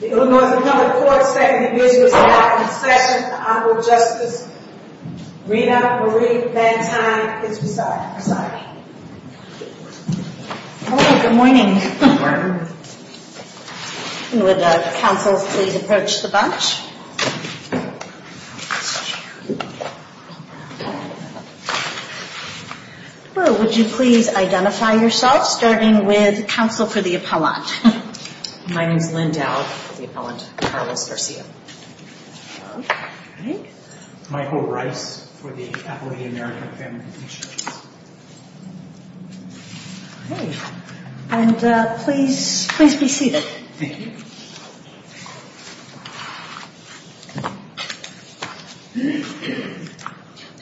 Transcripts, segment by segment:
The Illinois Appellate Court's second individual is now in session. The Honorable Justice Rena Marie Van Tine is presiding. Hello, good morning. Would counsel please approach the bench. Would you please identify yourself, starting with counsel for the appellant. My name is Lynn Dowd for the appellant, Carlos Garcia. Michael Rice for the Appellate American Family Mutual Insurance. And please be seated. Thank you.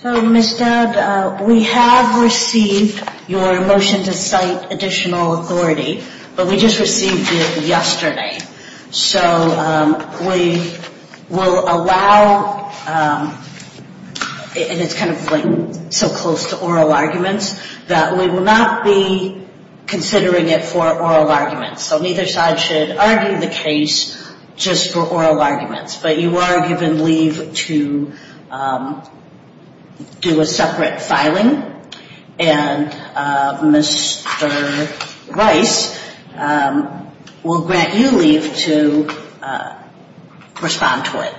So Ms. Dowd, we have received your motion to cite additional authority, but we just received it yesterday. So we will allow, and it's kind of like so close to oral arguments, that we will not be considering it for oral arguments. So neither side should argue the case just for oral arguments. But you are given leave to do a separate filing, and Mr. Rice will grant you leave to respond to it.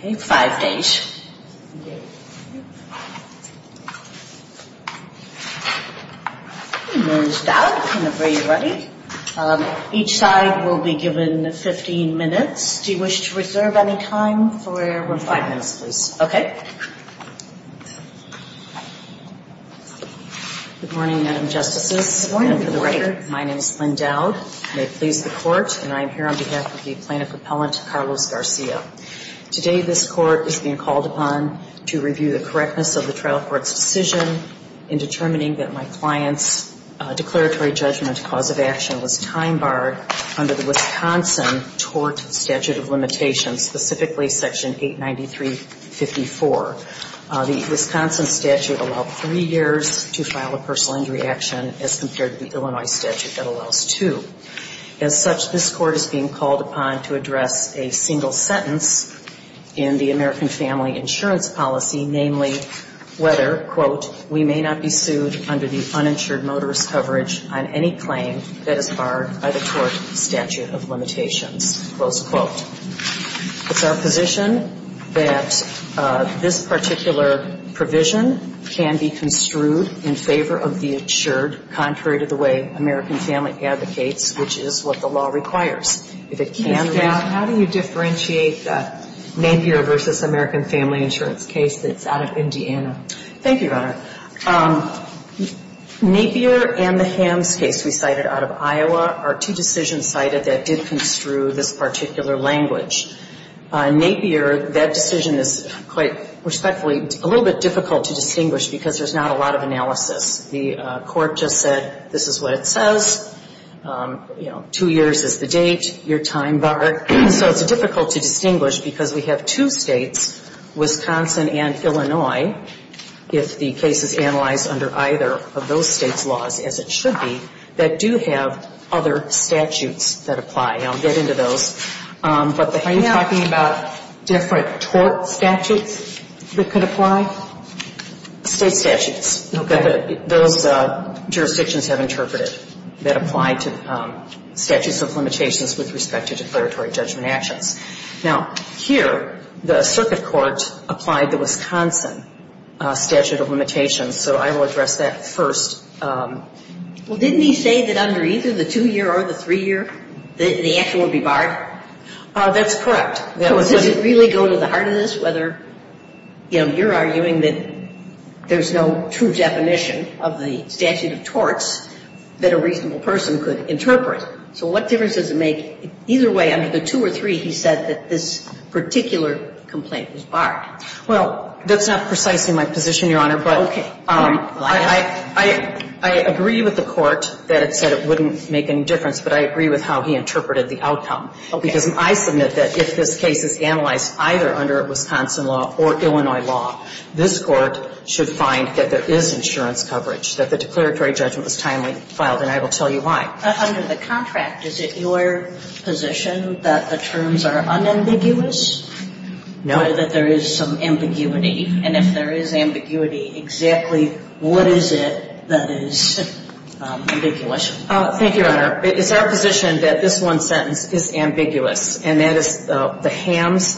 Okay, five days. And Ms. Dowd, whenever you're ready. Each side will be given 15 minutes. Do you wish to reserve any time for five minutes, please? Okay. Good morning, Madam Justices. Good morning. My name is Lynn Dowd. May it please the Court. And I am here on behalf of the plaintiff appellant, Carlos Garcia. Today this Court is being called upon to review the correctness of the trial court's decision in determining that my client's declaratory judgment cause of action was time barred under the Wisconsin tort statute of limitations, specifically Section 893.54. The Wisconsin statute allowed three years to file a personal injury action as compared to the Illinois statute that allows two. As such, this Court is being called upon to address a single sentence in the American family insurance policy, namely whether, quote, we may not be sued under the uninsured motorist coverage on any claim that is barred by the tort statute of limitations. Close quote. It's our position that this particular provision can be construed in favor of the insured, contrary to the way American family advocates, which is what the law requires. If it can be. Ms. Dowd, how do you differentiate the Napier versus American family insurance case that's out of Indiana? Thank you, Your Honor. Napier and the Hamms case we cited out of Iowa are two decisions cited that did construe this particular language. Napier, that decision is quite respectfully a little bit difficult to distinguish because there's not a lot of analysis. The Court just said this is what it says, you know, two years is the date, your time barred. So it's difficult to distinguish because we have two states, Wisconsin and Illinois, if the case is analyzed under either of those states' laws, as it should be, that do have other statutes that apply. I'll get into those. Are you talking about different tort statutes that could apply? State statutes. Okay. Those jurisdictions have interpreted that apply to statutes of limitations with respect to declaratory judgment actions. Now, here, the circuit court applied the Wisconsin statute of limitations. So I will address that first. Well, didn't he say that under either the two-year or the three-year, the action would be barred? That's correct. Does it really go to the heart of this, whether, you know, you're arguing that there's no true definition of the statute of torts that a reasonable person could interpret? So what difference does it make? Either way, under the two or three, he said that this particular complaint was barred. Well, that's not precisely my position, Your Honor. Okay. I agree with the Court that it said it wouldn't make any difference, but I agree with how he interpreted the outcome. Okay. Because I submit that if this case is analyzed either under Wisconsin law or Illinois law, this Court should find that there is insurance coverage, that the declaratory judgment was timely filed, and I will tell you why. Under the contract, is it your position that the terms are unambiguous? No. And if there is some ambiguity, and if there is ambiguity, exactly what is it that is ambiguous? Thank you, Your Honor. It's our position that this one sentence is ambiguous, and that is the Hamms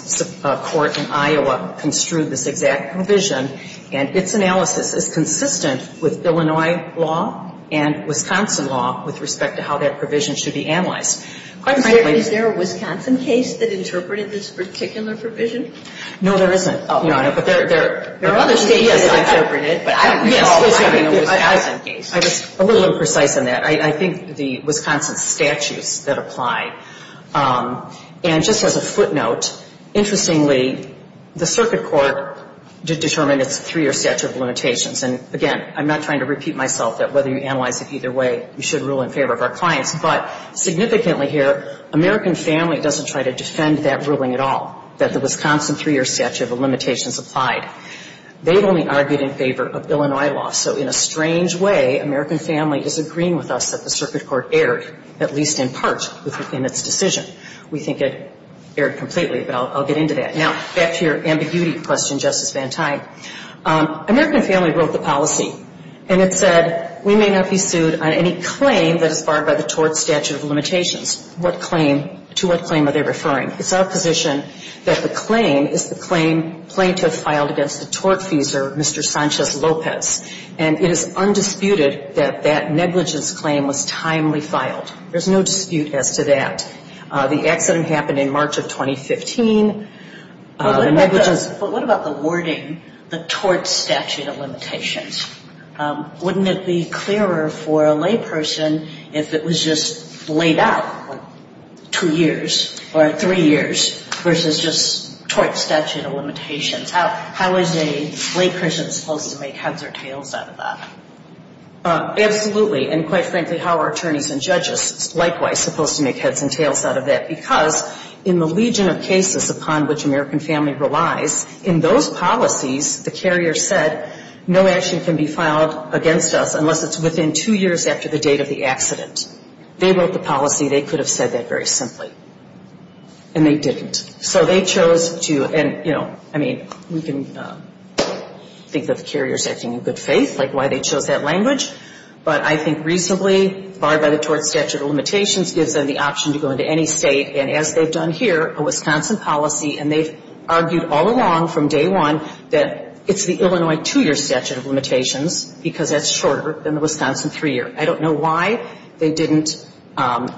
Court in Iowa construed this exact provision, and its analysis is consistent with Illinois law and Wisconsin law with respect to how that provision should be analyzed. Is there a Wisconsin case that interpreted this particular provision? No, there isn't, Your Honor. There are other cases that interpret it, but I don't recall having a Wisconsin case. I was a little imprecise in that. I think the Wisconsin statutes that apply. And just as a footnote, interestingly, the circuit court determined it's three or statute of limitations. And, again, I'm not trying to repeat myself that whether you analyze it either way, you should rule in favor of our clients. But significantly here, American Family doesn't try to defend that ruling at all, that the Wisconsin three-year statute of limitations applied. They've only argued in favor of Illinois law. So in a strange way, American Family is agreeing with us that the circuit court erred, at least in part, in its decision. We think it erred completely, but I'll get into that. Now, back to your ambiguity question, Justice Van Tine. American Family wrote the policy, and it said we may not be sued on any claim that is barred by the tort statute of limitations. What claim? To what claim are they referring? It's our position that the claim is the claim plaintiff filed against the tort feeser, Mr. Sanchez-Lopez. And it is undisputed that that negligence claim was timely filed. There's no dispute as to that. The accident happened in March of 2015. But what about the wording, the tort statute of limitations? Wouldn't it be clearer for a layperson if it was just laid out, like two years or three years, versus just tort statute of limitations? How is a layperson supposed to make heads or tails out of that? Absolutely. And quite frankly, how are attorneys and judges likewise supposed to make heads and tails out of that? Because in the legion of cases upon which American Family relies, in those policies, the carrier said no action can be filed against us unless it's within two years after the date of the accident. They wrote the policy. They could have said that very simply. And they didn't. So they chose to, and, you know, I mean, we can think that the carrier is acting in good faith, like why they chose that language. But I think reasonably, barred by the tort statute of limitations, gives them the option to go into any state and, as they've done here, a Wisconsin policy, and they've argued all along from day one that it's the Illinois two-year statute of limitations because that's shorter than the Wisconsin three-year. I don't know why they didn't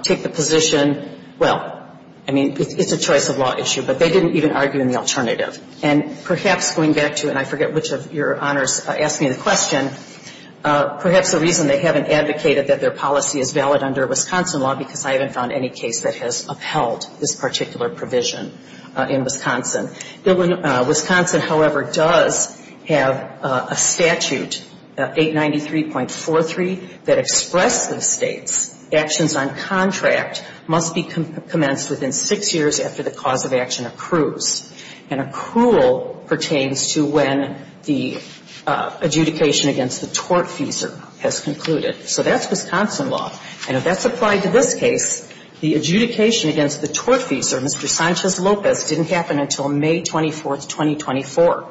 take the position. Well, I mean, it's a choice of law issue, but they didn't even argue in the alternative. And perhaps going back to, and I forget which of your honors asked me the question, perhaps the reason they haven't advocated that their policy is valid under a Wisconsin law, because I haven't found any case that has upheld this particular provision in Wisconsin. Wisconsin, however, does have a statute, 893.43, that expresses states actions on contract must be commenced within six years after the cause of action accrues. And accrual pertains to when the adjudication against the tort feasor has concluded. So that's Wisconsin law. And if that's applied to this case, the adjudication against the tort feasor, Mr. Sanchez-Lopez, didn't happen until May 24th, 2024.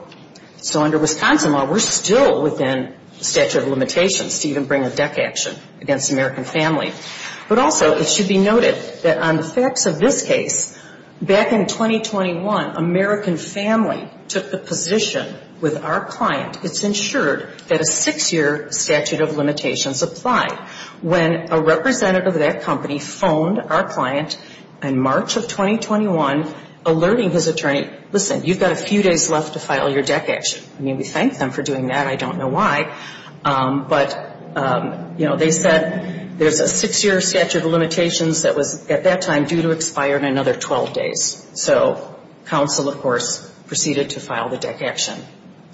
So under Wisconsin law, we're still within statute of limitations to even bring a deck action against American family. But also, it should be noted that on the facts of this case, back in 2021, American family took the position with our client, it's ensured that a six-year statute of limitations applied. When a representative of that company phoned our client in March of 2021, alerting his attorney, listen, you've got a few days left to file your deck action. I mean, we thanked them for doing that. I don't know why. But, you know, they said there's a six-year statute of limitations that was, at that time, due to expire in another 12 days. So counsel, of course, proceeded to file the deck action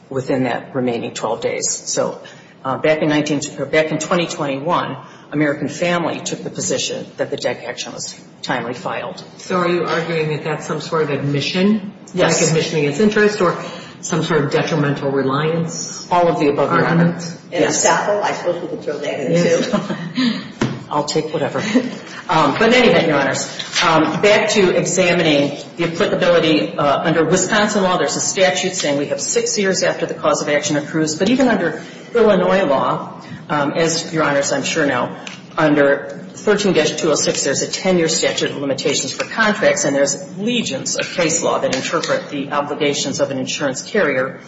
within that remaining 12 days. So back in 2021, American family took the position that the deck action was timely filed. So are you arguing that that's some sort of admission? Yes. Deck admission against interest or some sort of detrimental reliance? All of the above, Your Honors. In a sackle, I suppose we could throw that in, too. I'll take whatever. But in any event, Your Honors, back to examining the applicability. Under Wisconsin law, there's a statute saying we have six years after the cause of action approves, but even under Illinois law, as, Your Honors, I'm sure know, under 13-206, there's a ten-year statute of limitations for contracts, and there's legions of case law that interpret the obligations of an insurance carrier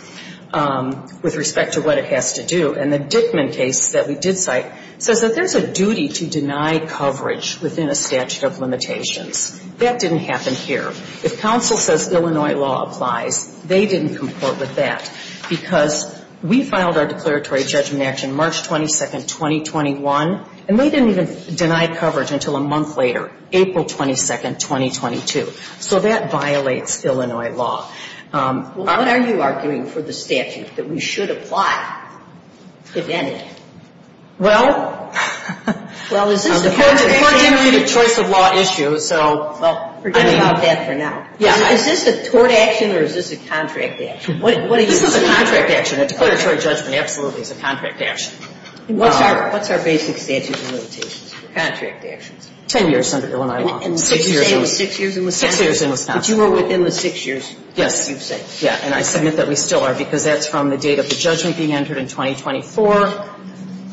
with respect to what it has to do. And the Dickman case that we did cite says that there's a duty to deny coverage within a statute of limitations. That didn't happen here. If counsel says Illinois law applies, they didn't comport with that because we filed our declaratory judgment action March 22nd, 2021, and they didn't even deny coverage until a month later, April 22nd, 2022. So that violates Illinois law. Well, what are you arguing for the statute that we should apply, if any? Well, the court didn't read the choice of law issue, so. Well, forget about that for now. Is this a tort action or is this a contract action? This is a contract action. A declaratory judgment absolutely is a contract action. What's our basic statute of limitations for contract actions? Ten years under Illinois law. And what did you say? Six years in Wisconsin? Six years in Wisconsin. But you were within the six years that you've said. Yeah. And I submit that we still are because that's from the date of the judgment being entered in 2024,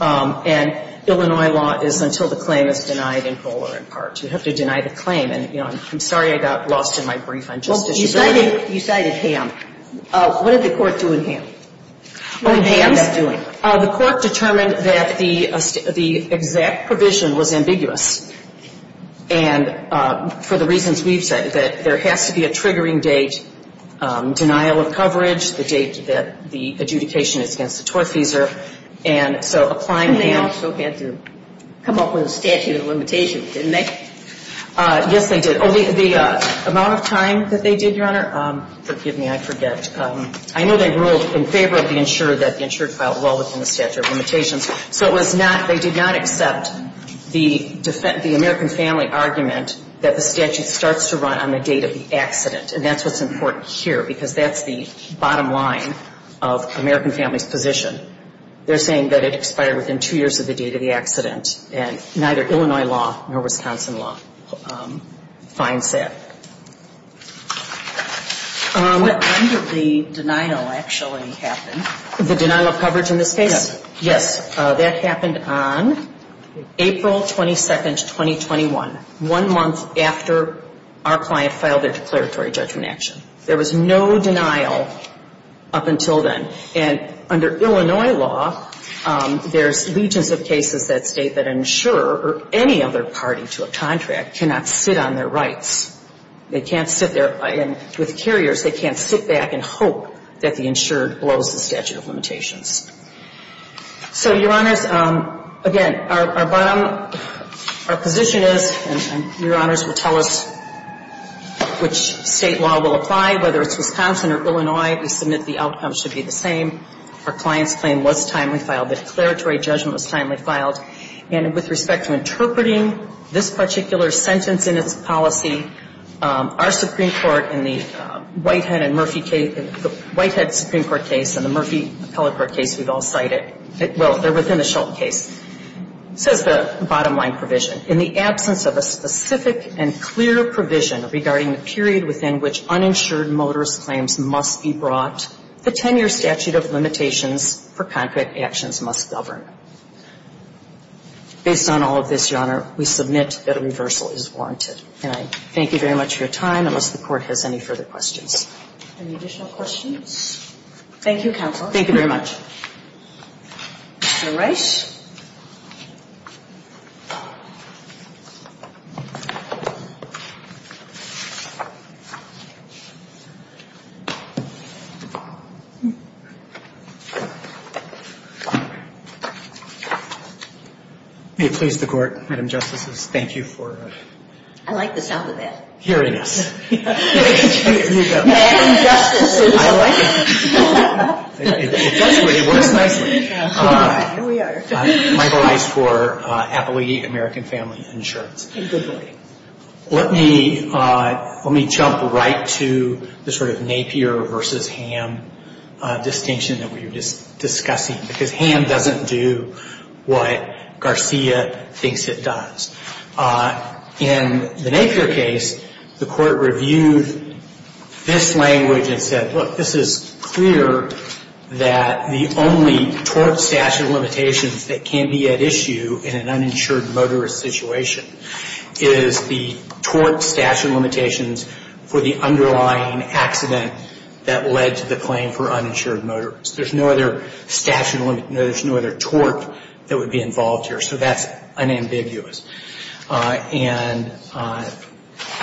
and Illinois law is until the claim is denied in full or in part. You have to deny the claim. And, you know, I'm sorry I got lost in my brief on justiciability. You cited Hamm. What did the court do in Hamm? What did Hamm end up doing? The court determined that the exact provision was ambiguous. And for the reasons we've said, that there has to be a triggering date, denial of coverage, the date that the adjudication is against the tortfeasor. And so applying Hamm. Hamm also had to come up with a statute of limitations, didn't they? Yes, they did. The amount of time that they did, Your Honor, forgive me, I forget. I know they ruled in favor of the insurer that the insurer filed well within the statute of limitations. So it was not, they did not accept the American family argument that the statute starts to run on the date of the accident. And that's what's important here because that's the bottom line of American family's position. They're saying that it expired within two years of the date of the accident. And neither Illinois law nor Wisconsin law finds that. When did the denial actually happen? The denial of coverage in this case? Yes. That happened on April 22, 2021, one month after our client filed their declaratory judgment action. There was no denial up until then. And under Illinois law, there's legions of cases that state that an insurer or any other party to a contract cannot sit on their rights. They can't sit there. And with carriers, they can't sit back and hope that the insurer blows the statute of limitations. So, Your Honors, again, our bottom, our position is, and Your Honors will tell us which State law will apply, whether it's Wisconsin or Illinois, we submit the outcome of our client's claim. Our client's claim should be the same. Our client's claim was timely filed. The declaratory judgment was timely filed. And with respect to interpreting this particular sentence in its policy, our Supreme Court in the Whitehead and Murphy case, the Whitehead Supreme Court case and the Murphy Appellate Court case we've all cited, well, they're within the Shultz case, says the bottom line provision. In the absence of a specific and clear provision regarding the period within which uninsured motorist claims must be brought, the 10-year statute of limitations for contract actions must govern. Based on all of this, Your Honor, we submit that a reversal is warranted. And I thank you very much for your time, unless the Court has any further questions. Any additional questions? Thank you, Counsel. Thank you very much. All right. May it please the Court, Madam Justices, thank you for hearing us. I like the sound of that. Madam Justices. I like it. It does work. It works nicely. All right. Here we are. Michael Ice for Appellate American Family Insurance. Good boy. Let me jump right to the sort of Napier v. Ham distinction that we were discussing, because Ham doesn't do what Garcia thinks it does. In the Napier case, the Court reviewed this language and said, look, this is clear that the only tort statute of limitations that can be at issue in an uninsured motorist situation is the tort statute of limitations for the underlying accident that led to the claim for uninsured motorist. There's no other statute of limitations, no other tort that would be involved here. So that's unambiguous and,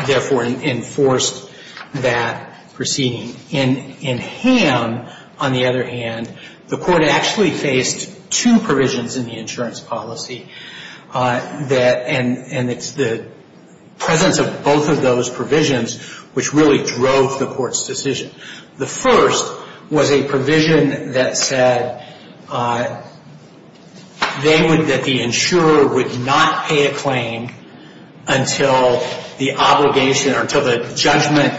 therefore, enforced that proceeding. In Ham, on the other hand, the Court actually faced two provisions in the insurance policy and it's the presence of both of those provisions which really drove the Court's decision. The first was a provision that said that the insurer would not pay a claim until the obligation or until the judgment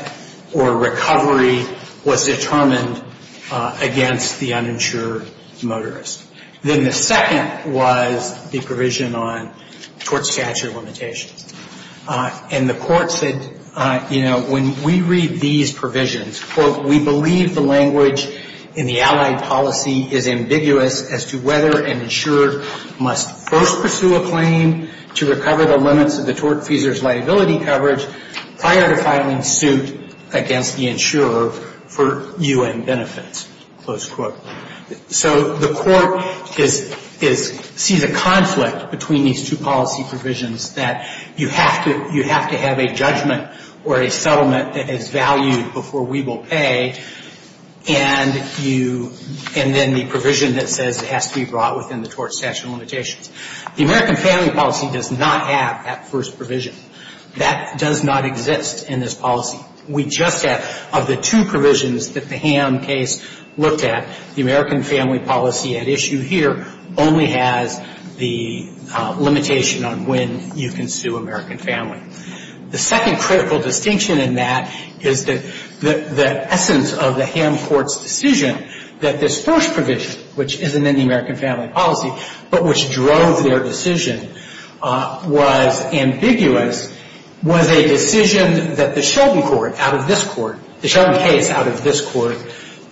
or recovery was determined against the uninsured motorist. Then the second was the provision on tort statute of limitations. And the Court said, you know, when we read these provisions, quote, we believe the language in the Allied policy is ambiguous as to whether an insurer must first pursue a claim to recover the limits of the tortfeasor's liability coverage prior to filing suit against the insurer for U.N. benefits, close quote. So the Court is, sees a conflict between these two policy provisions that you have to, you have to have a judgment or a settlement that is valued before we will pay and you, and then the provision that says it has to be brought within the tort statute of limitations. The American family policy does not have that first provision. That does not exist in this policy. We just have, of the two provisions that the Ham case looked at, the American family policy at issue here only has the limitation on when you can sue American family. The second critical distinction in that is that the essence of the Ham court's decision that this first provision, which isn't in the American family policy, but which drove their decision was ambiguous, was a decision that the Sheldon court out of this court, the Sheldon case out of this court,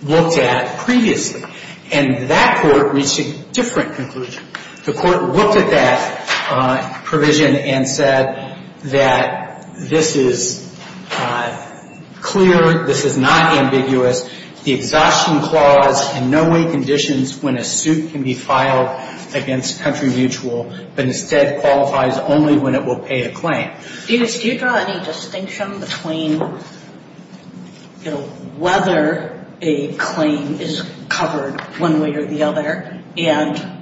looked at previously. And that court reached a different conclusion. The court looked at that provision and said that this is clear, this is not ambiguous. The exhaustion clause in no way conditions when a suit can be filed against country mutual but instead qualifies only when it will pay a claim. Do you draw any distinction between whether a claim is covered one way or the other and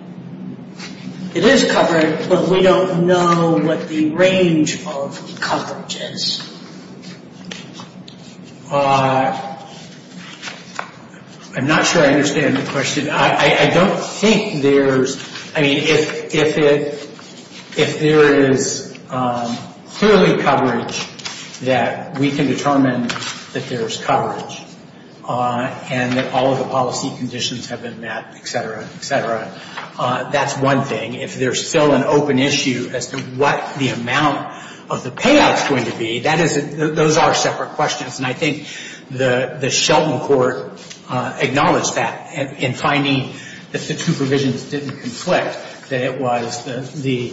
it is covered but we don't know what the range of coverage is? I'm not sure I understand the question. I don't think there's, I mean, if there is clearly coverage that we can determine that there's coverage and that all of the policy conditions have been met, et cetera, et cetera, that's one thing. If there's still an open issue as to what the amount of the payout is going to be, those are separate questions. I think the Sheldon court acknowledged that in finding that the two provisions didn't conflict, that it was the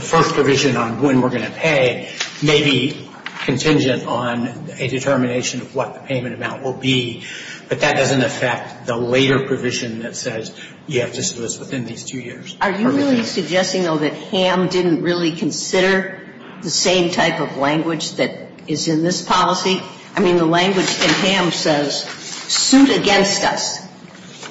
first provision on when we're going to pay may be contingent on a determination of what the payment amount will be. But that doesn't affect the later provision that says you have to solicit within these two years. Are you really suggesting, though, that Ham didn't really consider the same type of language that is in this policy? I mean, the language in Ham says, suit against us.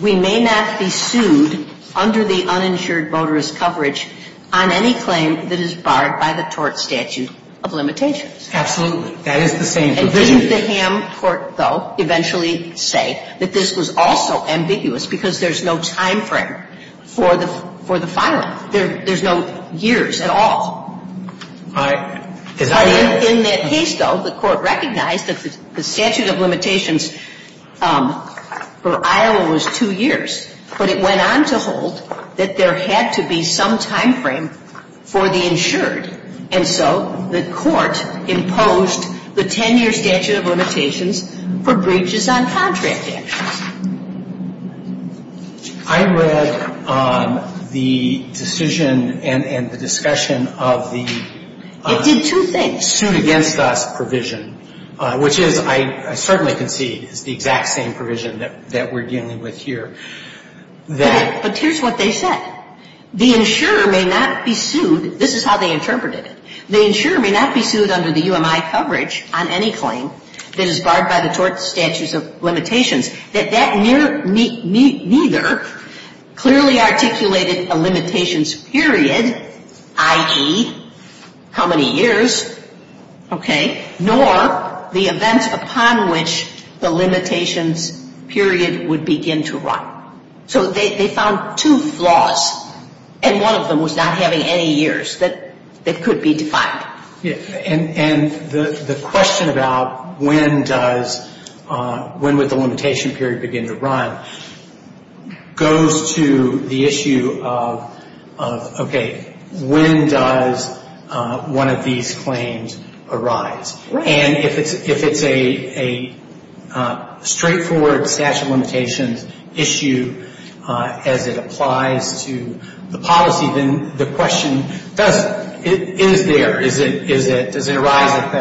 We may not be sued under the uninsured motorist coverage on any claim that is barred by the tort statute of limitations. Absolutely. That is the same provision. And didn't the Ham court, though, eventually say that this was also ambiguous because there's no time frame for the filing? There's no years at all. But in that case, though, the court recognized that the statute of limitations for Iowa was two years. But it went on to hold that there had to be some time frame for the insured. And so the court imposed the 10-year statute of limitations for breaches on contract actions. I read the decision and the discussion of the suit against us provision, which is, I certainly concede, is the exact same provision that we're dealing with here. But here's what they said. The insurer may not be sued. This is how they interpreted it. The insurer may not be sued under the UMI coverage on any claim that is barred by the tort statutes of limitations, that that near neither clearly articulated a limitations period, i.e., how many years, okay, nor the event upon which the limitations period would begin to run. So they found two flaws, and one of them was not having any years that could be defined. And the question about when does, when would the limitation period begin to run goes to the issue of, okay, when does one of these claims arise? And if it's a straightforward statute of limitations issue as it applies to the policy, then the question doesn't. It is there. Is it, does it arise at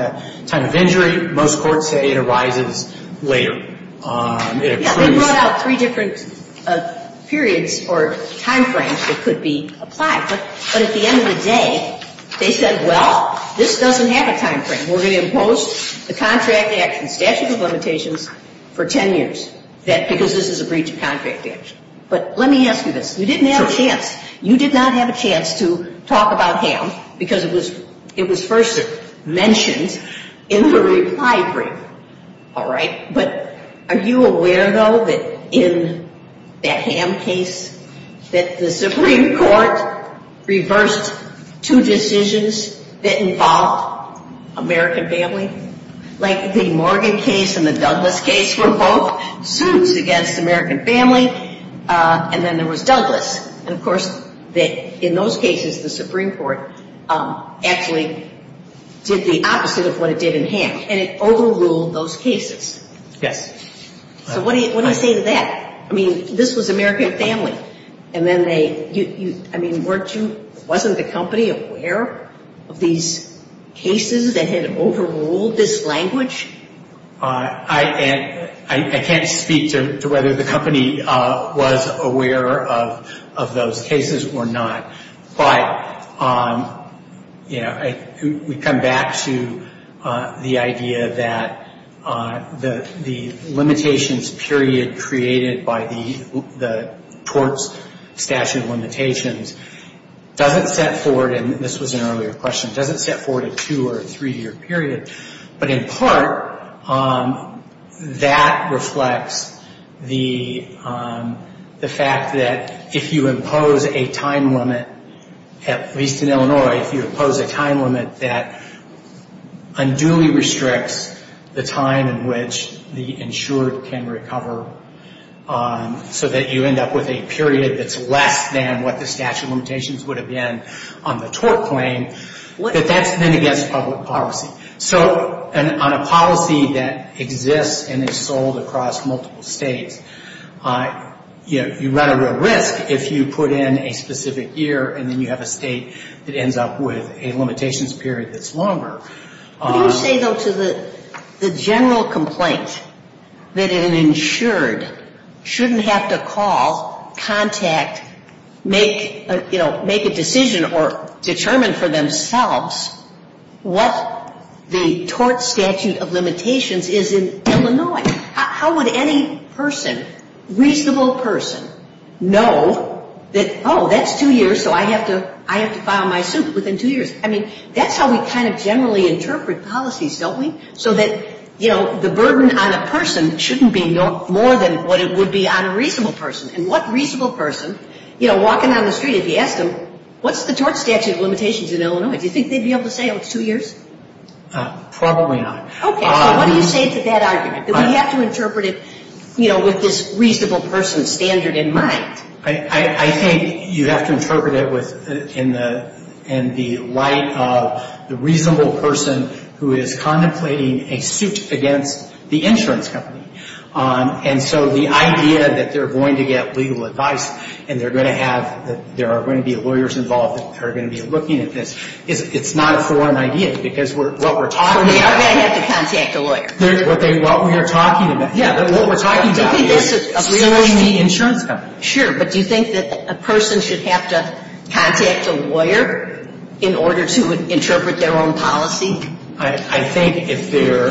the time of injury? Most courts say it arises later. It approves. Yeah. They brought out three different periods or time frames that could be applied. But at the end of the day, they said, well, this doesn't have a time frame. We're going to impose the contract action statute of limitations for 10 years because this is a breach of contract action. But let me ask you this. You didn't have a chance. You did not have a chance to talk about HAM because it was first mentioned in the reply brief. All right. But are you aware, though, that in that HAM case that the Supreme Court reversed two decisions that involved American family? Like the Morgan case and the Douglas case were both suits against American family, and then there was Douglas. And, of course, in those cases, the Supreme Court actually did the opposite of what it did in HAM, and it overruled those cases. Yes. So what do you say to that? I mean, this was American family, and then they, I mean, weren't you, wasn't the company aware of these cases that had overruled this language? I can't speak to whether the company was aware of those cases or not. But, you know, we come back to the idea that the limitations period created by the torts statute of limitations doesn't set forward, and this was an earlier question, doesn't set forward a two- or three-year period. But in part, that reflects the fact that if you impose a time limit, at least in Illinois, if you impose a time limit that unduly restricts the time in which the insured can recover so that you end up with a period that's less than what the statute of limitations would have been on the tort claim, that that's then against public policy. So on a policy that exists and is sold across multiple states, you run a real risk if you put in a specific year and then you have a state that ends up with a limitations period that's longer. What do you say, though, to the general complaint that an insured shouldn't have to call, contact, make, you know, make a decision or determine for themselves what the tort statute of limitations is in Illinois? How would any person, reasonable person, know that, oh, that's two years, so I have to file my suit within two years? I mean, that's how we kind of generally interpret policies, don't we? So that, you know, the burden on a person shouldn't be more than what it would be on a reasonable person. And what reasonable person, you know, walking down the street, if you asked them, what's the tort statute of limitations in Illinois, do you think they'd be able to say, oh, it's two years? Probably not. Okay. So what do you say to that argument, that we have to interpret it, you know, with this reasonable person standard in mind? I think you have to interpret it in the light of the reasonable person who is contemplating a suit against the insurance company. And so the idea that they're going to get legal advice and they're going to have, that there are going to be lawyers involved that are going to be looking at this, it's not a foreign idea, because what we're talking about is. So they are going to have to contact a lawyer. What we are talking about, yeah. What we're talking about is suing the insurance company. Sure. But do you think that a person should have to contact a lawyer in order to interpret their own policy? I think if they're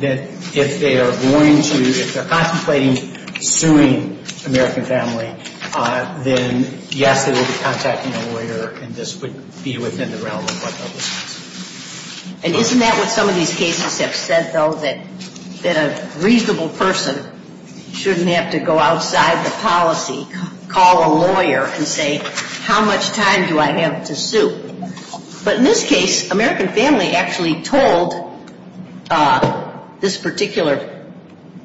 going to, if they're contemplating suing American Family, then yes, they will be contacting a lawyer, and this would be within the realm of what they'll discuss. And isn't that what some of these cases have said, though, that a reasonable person shouldn't have to go outside the policy, call a lawyer and say, how much time do I have to sue? But in this case, American Family actually told this particular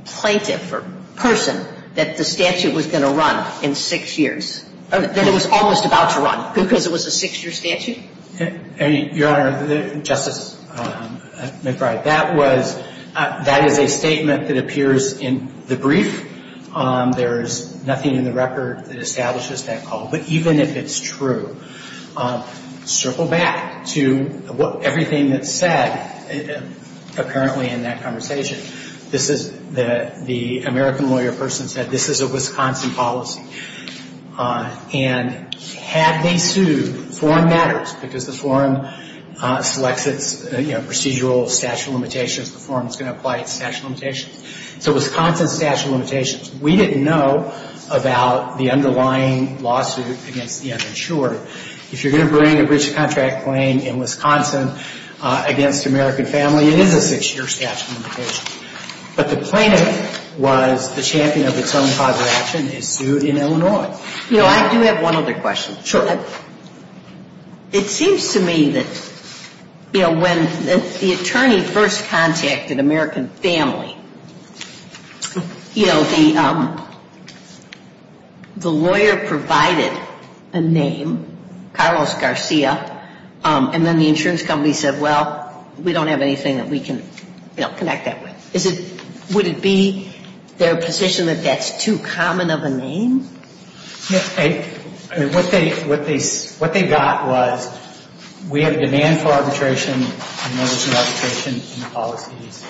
plaintiff or person that the statute was going to run in six years, that it was almost about to run, because it was a six-year statute? Your Honor, Justice McBride, that was, that is a statement that appears in the brief. There is nothing in the record that establishes that call. But even if it's true, circle back to everything that's said apparently in that conversation. This is, the American lawyer person said, this is a Wisconsin policy. And had they sued, the forum matters, because the forum selects its procedural statute of limitations, the forum is going to apply its statute of limitations. So Wisconsin statute of limitations. We didn't know about the underlying lawsuit against the uninsured. If you're going to bring a breach of contract claim in Wisconsin against American Family, it is a six-year statute of limitations. But the plaintiff was the champion of its own father action, is sued in Illinois. You know, I do have one other question. Sure. It seems to me that, you know, when the attorney first contacted American Family, you know, the lawyer provided a name, Carlos Garcia, and then the insurance company said, well, we don't have anything that we can, you know, connect that with. Is it, would it be their position that that's too common of a name? Yes. I mean, what they got was, we have a demand for arbitration, and there was no arbitration in the policies.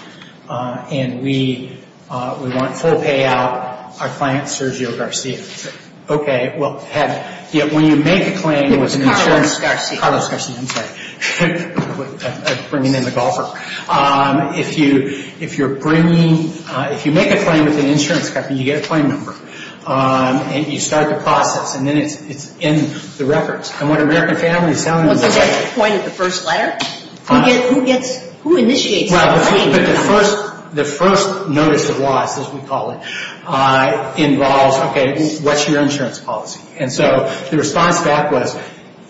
And we want full payout. Our client, Sergio Garcia, said, okay, well, when you make a claim with an insurance. It was Carlos Garcia. Carlos Garcia, I'm sorry. I'm bringing in the golfer. If you're bringing, if you make a claim with an insurance company, you get a claim number. And you start the process, and then it's in the records. And what American Family is telling me is that. Was there a point at the first letter? Who gets, who initiates the claim? Well, the first, the first notice of loss, as we call it, involves, okay, what's your insurance policy? And so the response back was,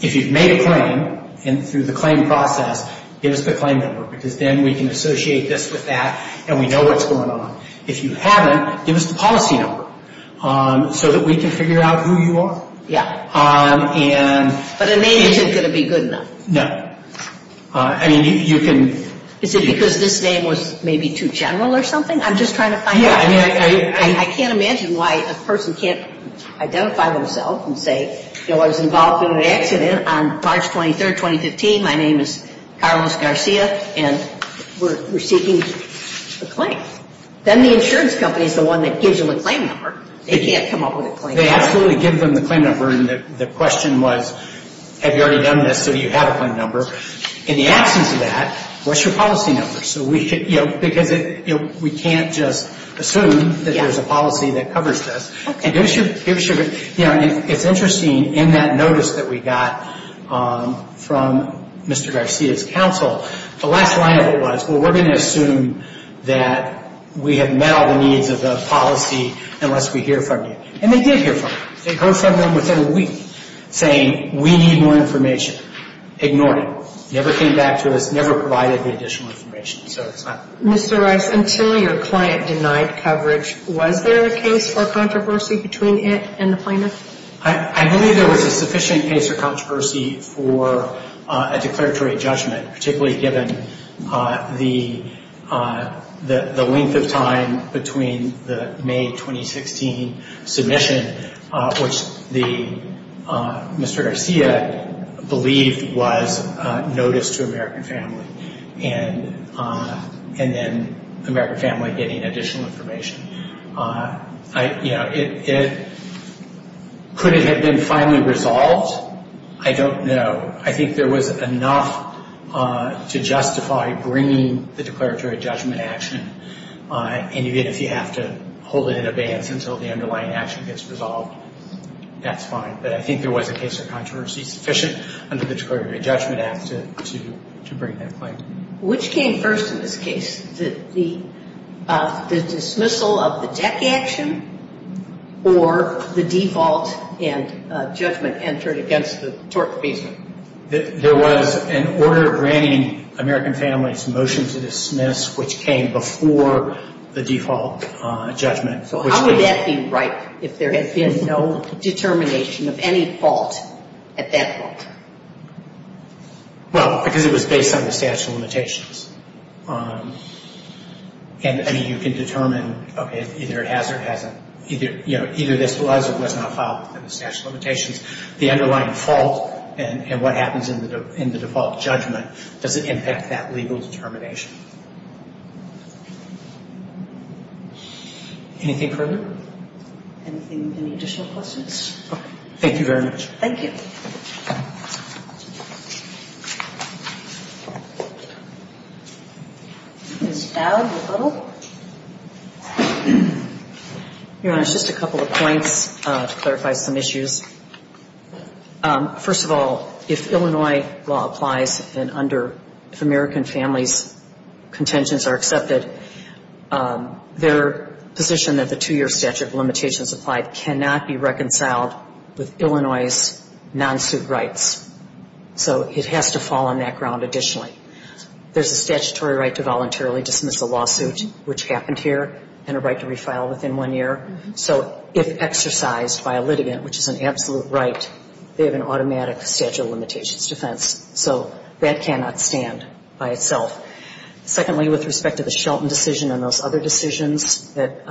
if you've made a claim, and through the claim process, give us the claim number, because then we can associate this with that, and we know what's going on. If you haven't, give us the policy number so that we can figure out who you are. Yeah. And. But a name isn't going to be good enough. No. I mean, you can. Is it because this name was maybe too general or something? I'm just trying to find out. Yeah, I mean, I can't imagine why a person can't identify themselves and say, you know, I was involved in an accident on March 23, 2015. My name is Carlos Garcia, and we're seeking a claim. Then the insurance company is the one that gives them the claim number. They can't come up with a claim number. They absolutely give them the claim number, and the question was, have you already done this, so do you have a claim number? In the absence of that, what's your policy number? So we should, you know, because it, you know, we can't just assume that there's a policy that covers this. Okay. And give us your, you know, it's interesting, in that notice that we got from Mr. Garcia's counsel, the last line of it was, well, we're going to assume that we have met all the needs of the policy unless we hear from you. And they did hear from us. They heard from them within a week saying, we need more information. Ignored it. Never came back to us, never provided the additional information. So it's not. Mr. Rice, until your client denied coverage, was there a case for controversy between it and the plaintiff? I believe there was a sufficient case for controversy for a declaratory judgment, particularly given the length of time between the May 2016 submission, which Mr. Garcia believed was notice to American Family, and then American Family getting additional information. You know, could it have been finally resolved? I don't know. I think there was enough to justify bringing the declaratory judgment action, and yet if you have to hold it in abeyance until the underlying action gets resolved, that's fine. But I think there was a case for controversy sufficient under the Declaratory Judgment Act to bring that claim. Which came first in this case, the dismissal of the DEC action, or the default and judgment entered against the tort appeasement? There was an order granting American Family's motion to dismiss, which came before the default judgment. So how would that be right if there had been no determination of any fault at that point? Well, because it was based on the statute of limitations. And, I mean, you can determine, okay, either it has or it hasn't. Either this was or was not filed within the statute of limitations. The underlying fault and what happens in the default judgment doesn't impact that legal determination. Anything further? Anything, any additional questions? Thank you very much. Thank you. Ms. Dowd, a little. Your Honor, just a couple of points to clarify some issues. First of all, if Illinois law applies and under, if American Family's contentions are accepted, their position that the two-year statute of limitations applied cannot be reconciled with Illinois's non-suit rights. So it has to fall on that ground additionally. There's a statutory right to voluntarily dismiss a lawsuit, which happened here, and a right to refile within one year. So if exercised by a litigant, which is an absolute right, they have an automatic statute of limitations defense. So that cannot stand by itself. Secondly, with respect to the Shelton decision and those other decisions that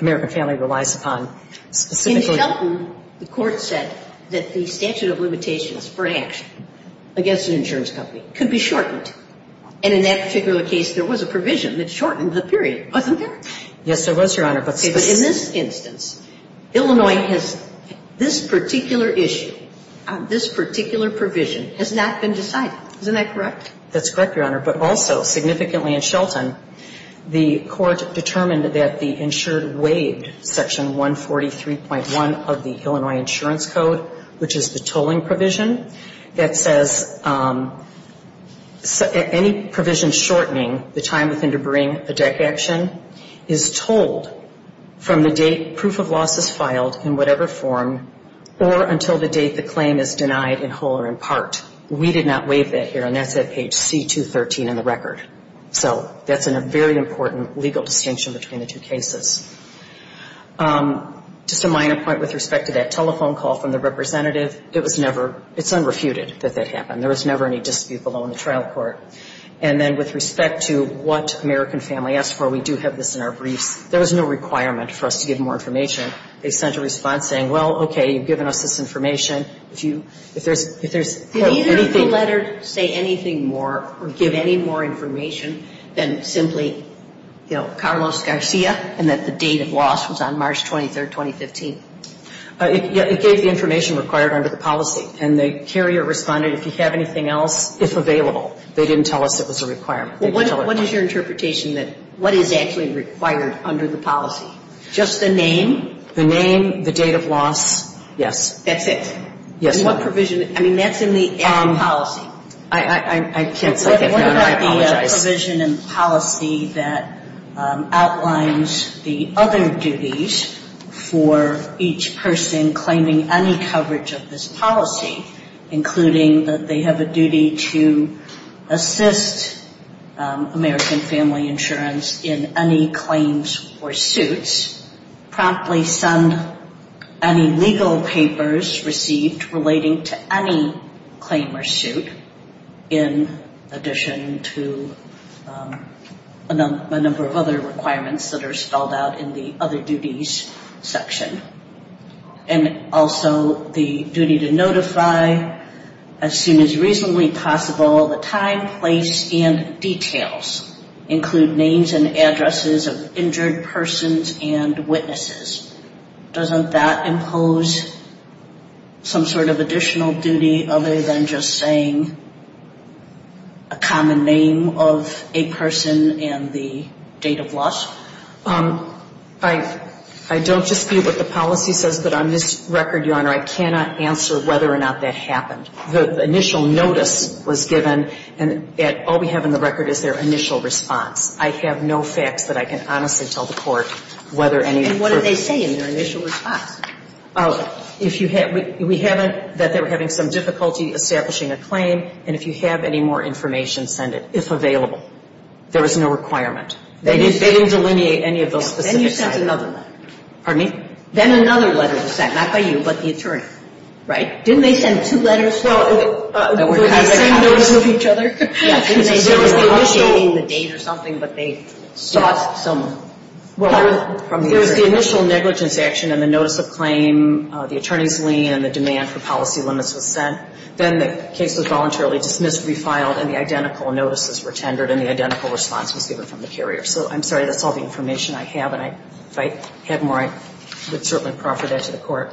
American Family relies upon, specifically. In Shelton, the Court said that the statute of limitations for action against an insurance company could be shortened. And in that particular case, there was a provision that shortened the period, wasn't there? Yes, there was, Your Honor. But in this instance, Illinois has this particular issue, this particular provision, has not been decided. Isn't that correct? That's correct, Your Honor. But also, significantly in Shelton, the Court determined that the insured waived Section 143.1 of the Illinois Insurance Code, which is the tolling provision that says any provision shortening the time within to bring a deck action is tolled from the date proof of loss is filed in whatever form or until the date the claim is denied in whole or in part. We did not waive that here, and that's at page C213 in the record. So that's a very important legal distinction between the two cases. Just a minor point with respect to that telephone call from the representative. It was never, it's unrefuted that that happened. There was never any dispute below in the trial court. And then with respect to what American Family asked for, we do have this in our briefs. There was no requirement for us to give more information. They sent a response saying, well, okay, you've given us this information. If you, if there's anything. Did either of the letters say anything more or give any more information than simply, you know, Carlos Garcia and that the date of loss was on March 23rd, 2015? It gave the information required under the policy. And the carrier responded, if you have anything else, if available. They didn't tell us it was a requirement. What is your interpretation that, what is actually required under the policy? Just the name? The name, the date of loss, yes. That's it? Yes, ma'am. And what provision, I mean, that's in the policy. I can't say I have none. I apologize. What about the provision in policy that outlines the other duties for each person claiming any coverage of this policy, including that they have a duty to assist American Family Insurance in any claims or suits, promptly send any legal papers received relating to any claim or suit, in addition to a number of other requirements that are spelled out in the other duties section. And also the duty to notify as soon as reasonably possible the time, place, and details include names and addresses of injured persons and witnesses. Doesn't that impose some sort of additional duty other than just saying a common name of a person and the date of loss? I don't dispute what the policy says, but on this record, Your Honor, I cannot answer whether or not that happened. The initial notice was given, and yet all we have in the record is their initial response. I have no facts that I can honestly tell the Court whether any of that occurred. And what did they say in their initial response? If you have we haven't that they were having some difficulty establishing a claim, and if you have any more information, send it, if available. There was no requirement. They didn't delineate any of those specific items. Then you sent another letter. Pardon me? Then another letter was sent, not by you, but the attorney. Right? Didn't they send two letters with the same notice of each other? There was the date or something, but they sought some help from the attorney. Well, there's the initial negligence action and the notice of claim, the attorney's lien, and the demand for policy limits was sent. Then the case was voluntarily dismissed, refiled, and the identical notices were tendered, and the identical response was given from the carrier. So I'm sorry, that's all the information I have. And if I had more, I would certainly proffer that to the Court.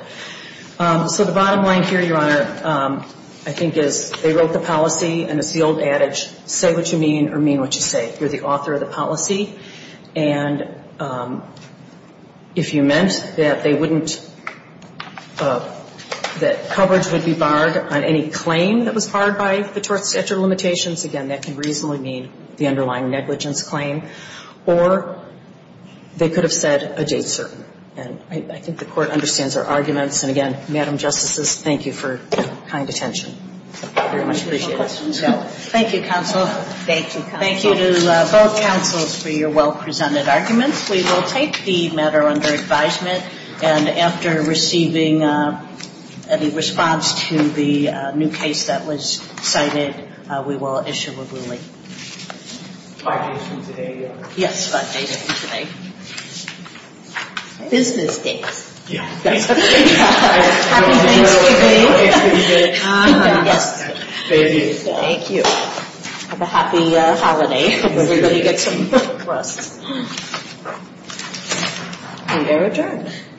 So the bottom line here, Your Honor, I think is they wrote the policy, and it's the old adage, say what you mean or mean what you say. You're the author of the policy. And if you meant that they wouldn't, that coverage would be barred on any claim that was barred by the tort statute of limitations, again, that can reasonably mean the underlying negligence claim. Or they could have said a date certain. And I think the Court understands our arguments. And again, Madam Justices, thank you for kind attention. I very much appreciate it. Thank you, counsel. Thank you, counsel. Thank you to both counsels for your well-presented arguments. We will take the matter under advisement. And after receiving any response to the new case that was cited, we will issue a ruling. Five days from today? Yes, five days from today. Business days. Happy Thanksgiving. Happy Thanksgiving. Yes. Thank you. Thank you. Have a happy holiday. Everybody get some rest. And they're adjourned.